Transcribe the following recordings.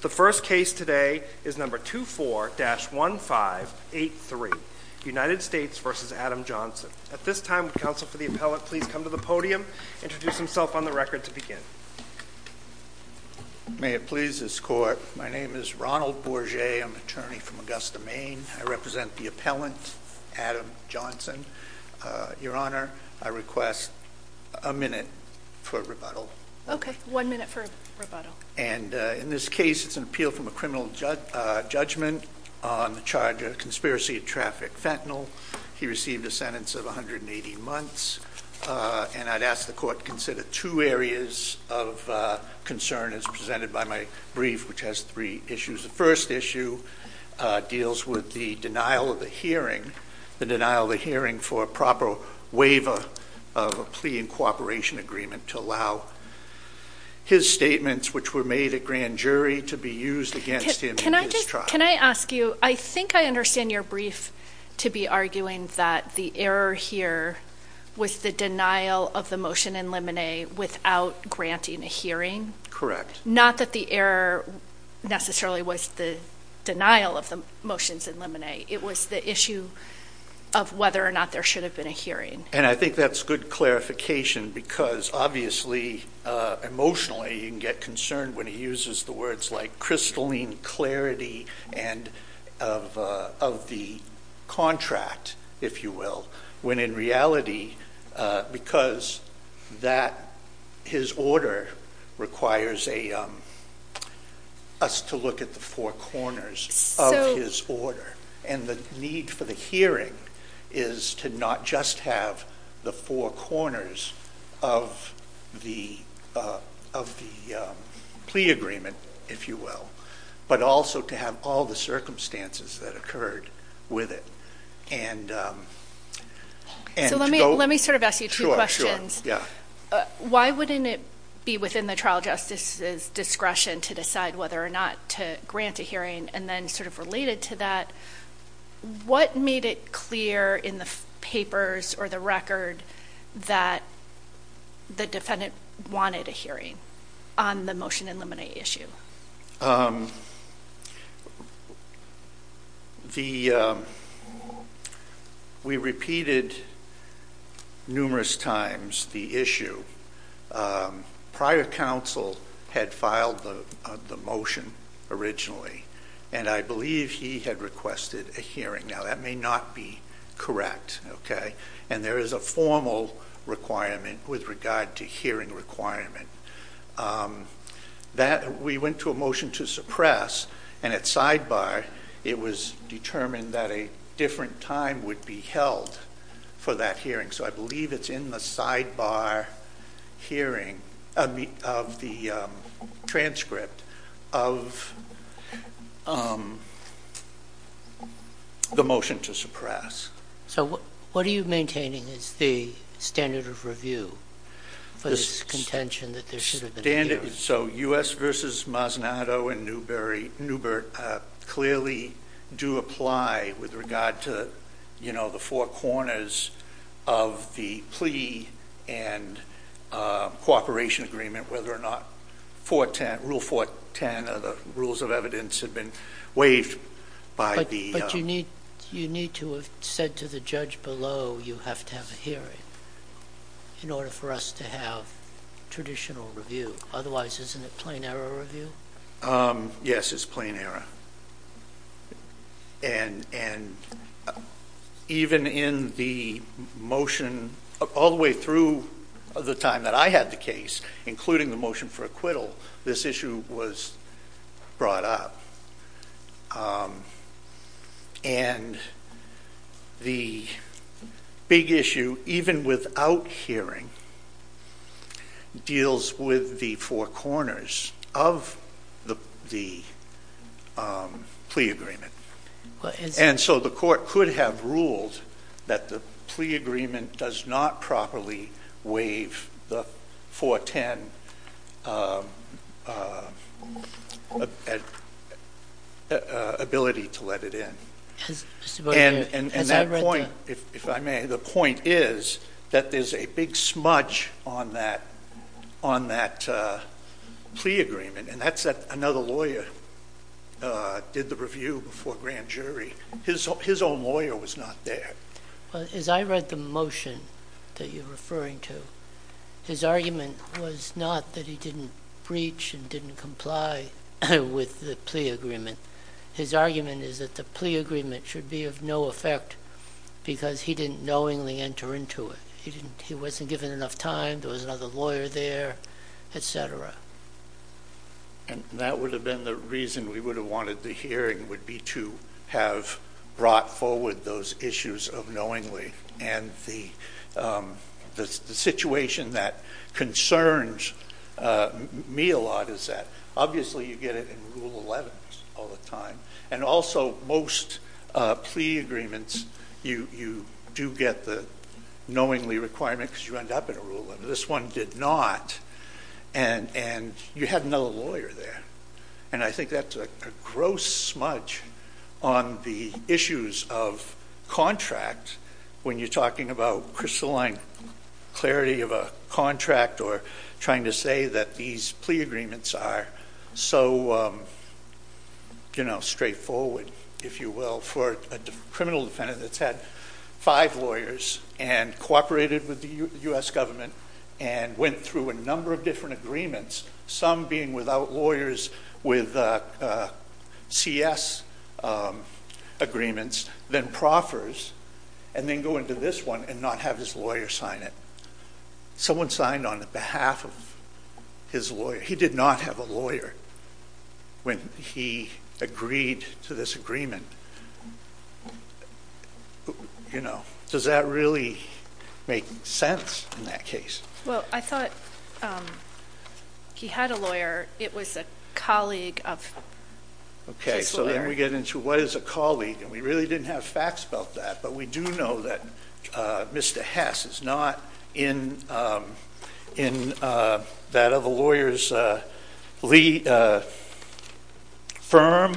The first case today is number 24-1583, United States v. Adam Johnson. At this time, would counsel for the appellant please come to the podium and introduce himself on the record to begin. May it please this court, my name is Ronald Bourget, I'm an attorney from Augusta, Maine. I represent the appellant, Adam Johnson. Your Honor, I request a minute for rebuttal. Okay, one minute for rebuttal. And in this case, it's an appeal from a criminal judgment on the charge of conspiracy of traffic fentanyl. He received a sentence of 180 months. And I'd ask the court to consider two areas of concern as presented by my brief, which has three issues. The first issue deals with the denial of the hearing, the denial of the hearing for a proper waiver of a plea in cooperation agreement to allow his statements, which were made at grand jury, to be used against him in his trial. Can I ask you, I think I understand your brief to be arguing that the error here was the denial of the motion in limine without granting a hearing. Correct. Not that the error necessarily was the denial of the motions in limine. It was the issue of whether or not there should have been a hearing. And I think that's good clarification because obviously emotionally you can get concerned when he uses the words like crystalline clarity of the contract, if you will. When in reality, because his order requires us to look at the four corners of his order. And the need for the hearing is to not just have the four corners of the plea agreement, if you will, but also to have all the circumstances that occurred with it. So let me sort of ask you two questions. Why wouldn't it be within the trial justice's discretion to decide whether or not to grant a hearing? And then sort of related to that, what made it clear in the papers or the record that the defendant wanted a hearing on the motion in limine issue? We repeated numerous times the issue. Prior counsel had filed the motion originally, and I believe he had requested a hearing. Now, that may not be correct, okay? And there is a formal requirement with regard to hearing requirement. We went to a motion to suppress, and at sidebar it was determined that a different time would be held for that hearing. So I believe it's in the sidebar hearing of the transcript of the motion to suppress. So what are you maintaining is the standard of review for this contention that there should have been a hearing? So U.S. v. Masnado and Newbert clearly do apply with regard to, you know, the four corners of the plea and cooperation agreement, whether or not Rule 410 or the rules of evidence have been waived by the ---- But you need to have said to the judge below you have to have a hearing in order for us to have traditional review. Otherwise, isn't it plain error review? Yes, it's plain error. And even in the motion all the way through the time that I had the case, including the motion for acquittal, this issue was brought up. And the big issue, even without hearing, deals with the four corners of the plea agreement. And so the court could have ruled that the plea agreement does not properly waive the 410 ability to let it in. And that point, if I may, the point is that there's a big smudge on that plea agreement. And that's that another lawyer did the review before grand jury. His own lawyer was not there. As I read the motion that you're referring to, his argument was not that he didn't breach and didn't comply with the plea agreement. His argument is that the plea agreement should be of no effect because he didn't knowingly enter into it. He wasn't given enough time. There was another lawyer there, et cetera. And that would have been the reason we would have wanted the hearing would be to have brought forward those issues of knowingly. And the situation that concerns me a lot is that obviously you get it in Rule 11 all the time. And also most plea agreements, you do get the knowingly requirement because you end up in a rule. This one did not. And you had another lawyer there. And I think that's a gross smudge on the issues of contract when you're talking about crystalline clarity of a contract or trying to say that these plea agreements are so straightforward, if you will, for a criminal defendant that's had five lawyers and cooperated with the U.S. government and went through a number of different agreements, some being without lawyers with CS agreements, then proffers and then go into this one and not have his lawyer sign it. Someone signed on behalf of his lawyer. He did not have a lawyer when he agreed to this agreement. You know, does that really make sense in that case? Well, I thought he had a lawyer. It was a colleague of his lawyer. Okay, so then we get into what is a colleague, and we really didn't have facts about that. But we do know that Mr. Hess is not in that other lawyer's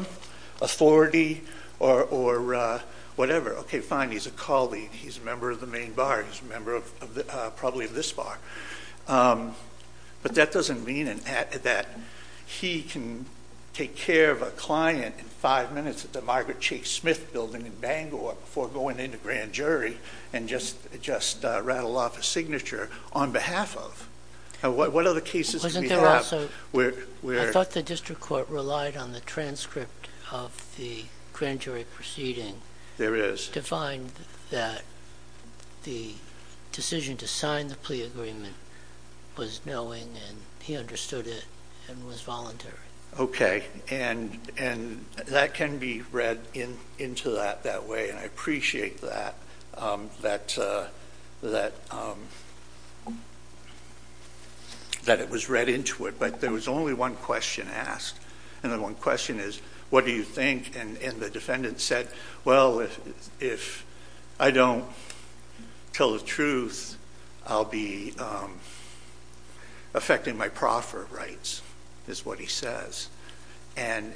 firm, authority, or whatever. Okay, fine, he's a colleague. He's a member of the main bar. He's a member probably of this bar. But that doesn't mean that he can take care of a client in five minutes at the Margaret Chase Smith building in Bangor before going into grand jury and just rattle off a signature on behalf of. What other cases do we have? Wasn't there also, I thought the district court relied on the transcript of the grand jury proceeding. There is. To find that the decision to sign the plea agreement was knowing and he understood it and was voluntary. Okay, and that can be read into that that way, and I appreciate that, that it was read into it. But there was only one question asked, and the one question is, what do you think? And the defendant said, well, if I don't tell the truth, I'll be affecting my proffer rights, is what he says. And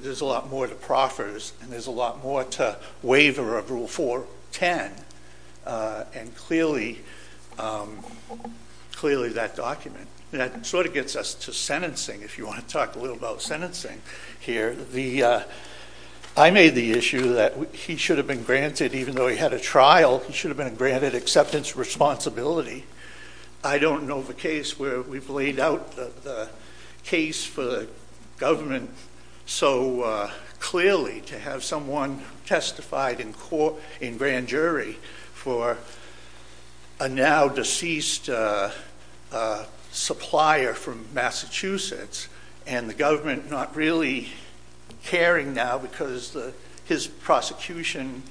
there's a lot more to proffers, and there's a lot more to waiver of Rule 410, and clearly that document. That sort of gets us to sentencing, if you want to talk a little about sentencing here. I made the issue that he should have been granted, even though he had a trial, he should have been granted acceptance responsibility. I don't know of a case where we've laid out the case for the government so clearly to have someone testified in grand jury for a now deceased supplier from Massachusetts, and the government not really caring now because his prosecution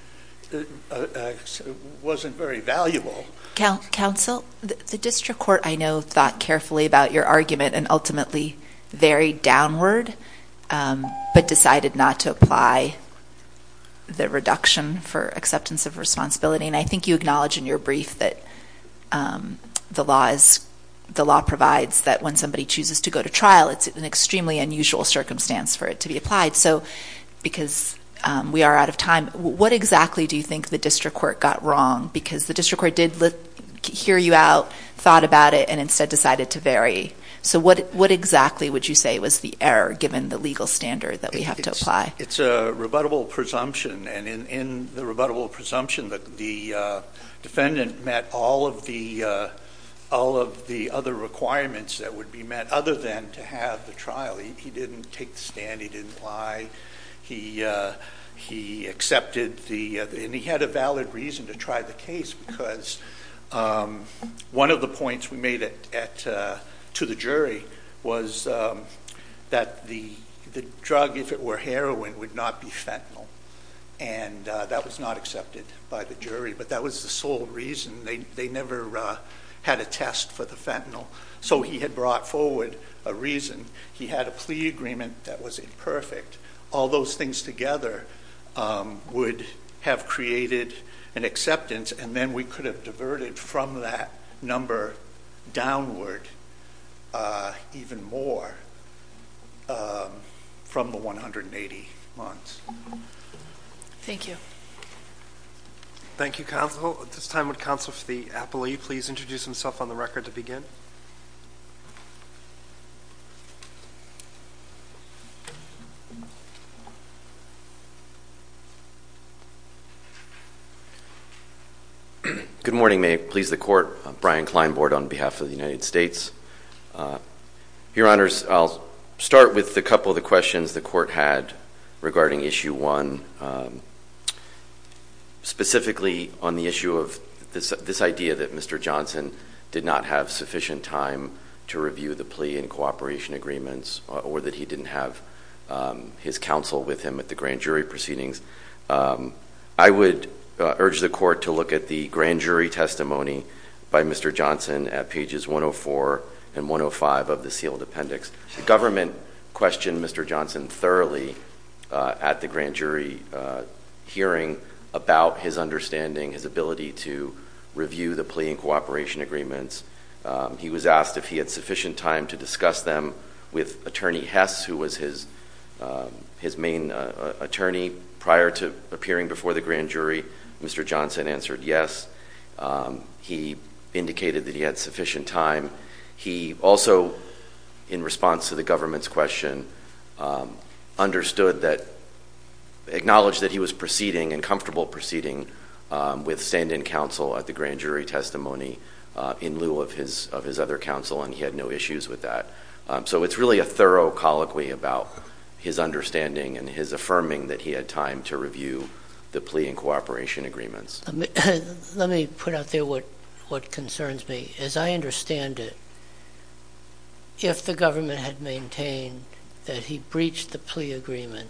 wasn't very valuable. Counsel, the district court, I know, thought carefully about your argument and ultimately varied downward, but decided not to apply the reduction for acceptance of responsibility. And I think you acknowledge in your brief that the law provides that when somebody chooses to go to trial, it's an extremely unusual circumstance for it to be applied. So because we are out of time, what exactly do you think the district court got wrong? Because the district court did hear you out, thought about it, and instead decided to vary. So what exactly would you say was the error given the legal standard that we have to apply? It's a rebuttable presumption, and in the rebuttable presumption, the defendant met all of the other requirements that would be met other than to have the trial. He didn't take the stand. He didn't lie. He accepted the ‑‑ and he had a valid reason to try the case because one of the points we made to the jury was that the drug, if it were heroin, would not be fentanyl, and that was not accepted by the jury. But that was the sole reason. They never had a test for the fentanyl. So he had brought forward a reason. He had a plea agreement that was imperfect. All those things together would have created an acceptance, and then we could have diverted from that number downward even more from the 180 months. Thank you. Thank you, counsel. At this time, would counsel for the appellee please introduce himself on the record to begin? Good morning. May it please the Court. Brian Kleinbord on behalf of the United States. Your Honors, I'll start with a couple of the questions the Court had regarding Issue 1, specifically on the issue of this idea that Mr. Johnson did not have sufficient time to review the plea and cooperation agreements or that he didn't have his counsel with him at the grand jury proceedings. I would urge the Court to look at the grand jury testimony by Mr. Johnson at pages 104 and 105 of the sealed appendix. The government questioned Mr. Johnson thoroughly at the grand jury hearing about his understanding, his ability to review the plea and cooperation agreements. He was asked if he had sufficient time to discuss them with Attorney Hess, who was his main attorney prior to appearing before the grand jury. Mr. Johnson answered yes. He indicated that he had sufficient time. He also, in response to the government's question, understood that he was proceeding and comfortable proceeding with stand-in counsel at the grand jury testimony in lieu of his other counsel, and he had no issues with that. So it's really a thorough colloquy about his understanding and his affirming that he had time to review the plea and cooperation agreements. Let me put out there what concerns me. As I understand it, if the government had maintained that he breached the plea agreement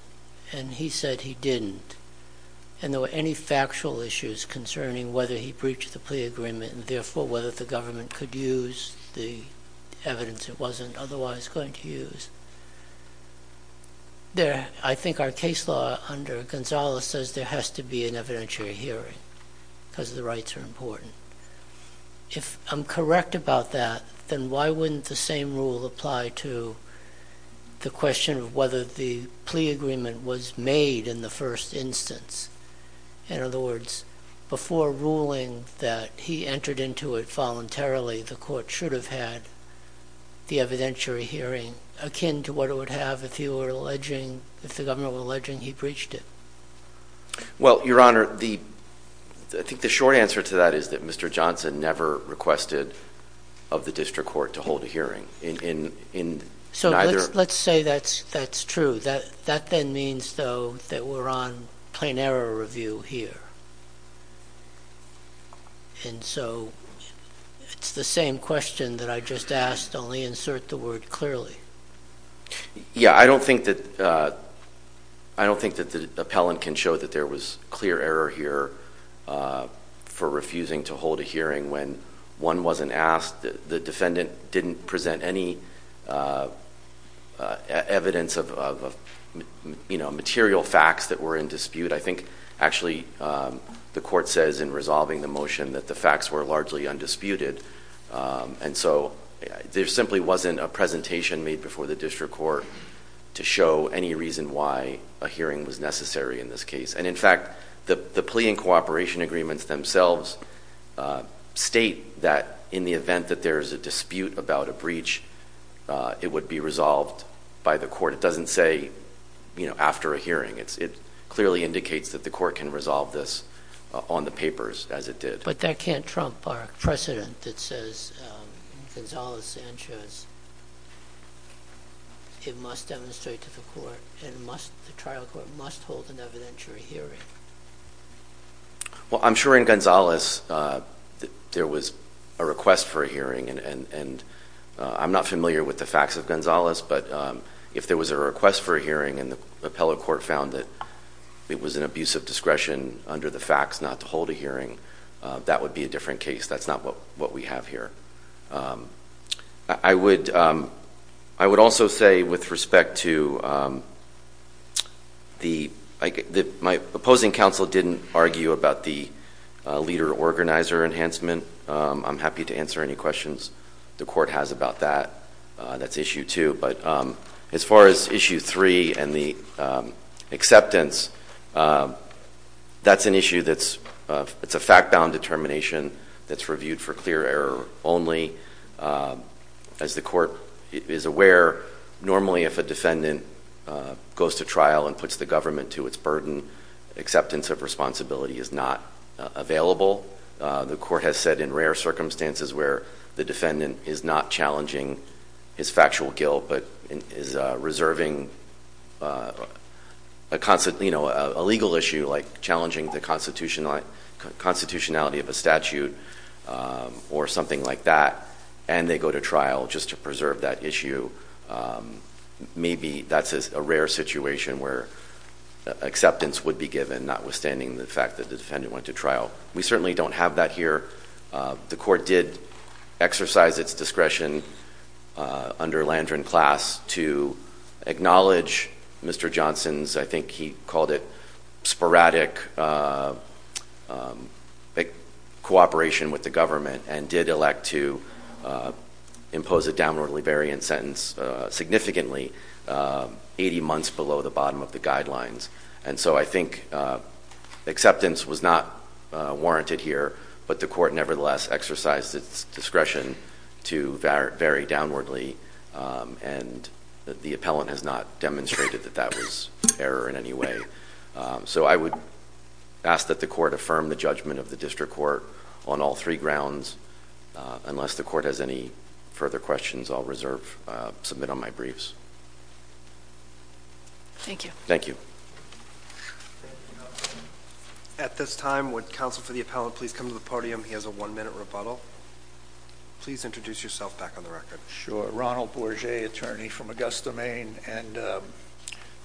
and he said he didn't and there were any factual issues concerning whether he breached the plea agreement and, therefore, whether the government could use the evidence it wasn't otherwise going to use, I think our case law under Gonzales says there has to be an evidentiary hearing because the rights are important. If I'm correct about that, then why wouldn't the same rule apply to the question of whether the plea agreement was made in the first instance? In other words, before ruling that he entered into it voluntarily, the court should have had the evidentiary hearing akin to what it would have if the government were alleging he breached it. Well, Your Honor, I think the short answer to that is that Mr. Johnson never requested of the district court to hold a hearing. So let's say that's true. That then means, though, that we're on plain error review here. And so it's the same question that I just asked, only insert the word clearly. Yeah, I don't think that the appellant can show that there was clear error here for refusing to hold a hearing when one wasn't asked, the defendant didn't present any evidence of material facts that were in dispute. I think, actually, the court says in resolving the motion that the facts were largely undisputed. And so there simply wasn't a presentation made before the district court to show any reason why a hearing was necessary in this case. And, in fact, the plea and cooperation agreements themselves state that in the event that there is a dispute about a breach, it would be resolved by the court. It doesn't say, you know, after a hearing. It clearly indicates that the court can resolve this on the papers as it did. But that can't trump our precedent that says, in Gonzales-Sanchez, it must demonstrate to the court and the trial court must hold an evidentiary hearing. Well, I'm sure in Gonzales there was a request for a hearing. And I'm not familiar with the facts of Gonzales, but if there was a request for a hearing and the appellate court found that it was an abuse of discretion under the facts not to hold a hearing, that would be a different case. That's not what we have here. I would also say with respect to my opposing counsel didn't argue about the leader-organizer enhancement. I'm happy to answer any questions the court has about that. That's issue two. But as far as issue three and the acceptance, that's an issue that's a fact-bound determination that's reviewed for clear error only. As the court is aware, normally if a defendant goes to trial and puts the government to its burden, acceptance of responsibility is not available. The court has said in rare circumstances where the defendant is not challenging his factual guilt but is reserving a legal issue like challenging the constitutionality of a statute or something like that, and they go to trial just to preserve that issue, maybe that's a rare situation where acceptance would be given notwithstanding the fact that the defendant went to trial. We certainly don't have that here. The court did exercise its discretion under Landron Class to acknowledge Mr. Johnson's, I think he called it sporadic cooperation with the government and did elect to impose a downwardly variant sentence significantly, 80 months below the bottom of the guidelines. And so I think acceptance was not warranted here, but the court nevertheless exercised its discretion to vary downwardly, and the appellant has not demonstrated that that was error in any way. So I would ask that the court affirm the judgment of the district court on all three grounds. Unless the court has any further questions, I'll reserve, submit on my briefs. Thank you. Thank you. At this time, would counsel for the appellant please come to the podium? He has a one-minute rebuttal. Please introduce yourself back on the record. Sure. Ronald Bourget, attorney from Augusta, Maine. And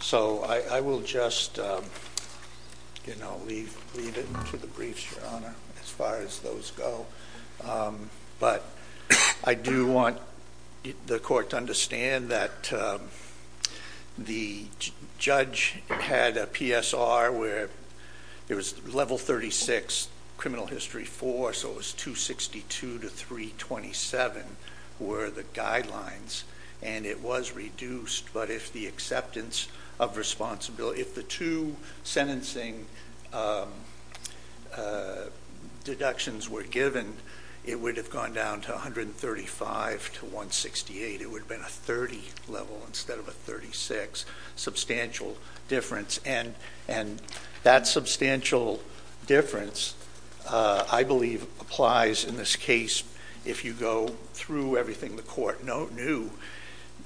so I will just, you know, lead into the briefs, Your Honor, as far as those go. But I do want the court to understand that the judge had a PSR where it was level 36, criminal history 4, so it was 262 to 327 were the guidelines, and it was reduced. But if the acceptance of responsibility, if the two sentencing deductions were given, it would have gone down to 135 to 168. It would have been a 30 level instead of a 36. Substantial difference. And that substantial difference, I believe, applies in this case if you go through everything the court knew.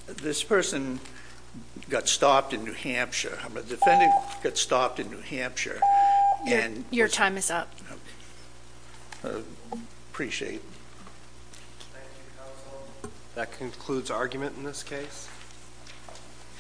This person got stopped in New Hampshire. A defendant got stopped in New Hampshire. Your time is up. Appreciate it. Thank you, counsel. That concludes argument in this case.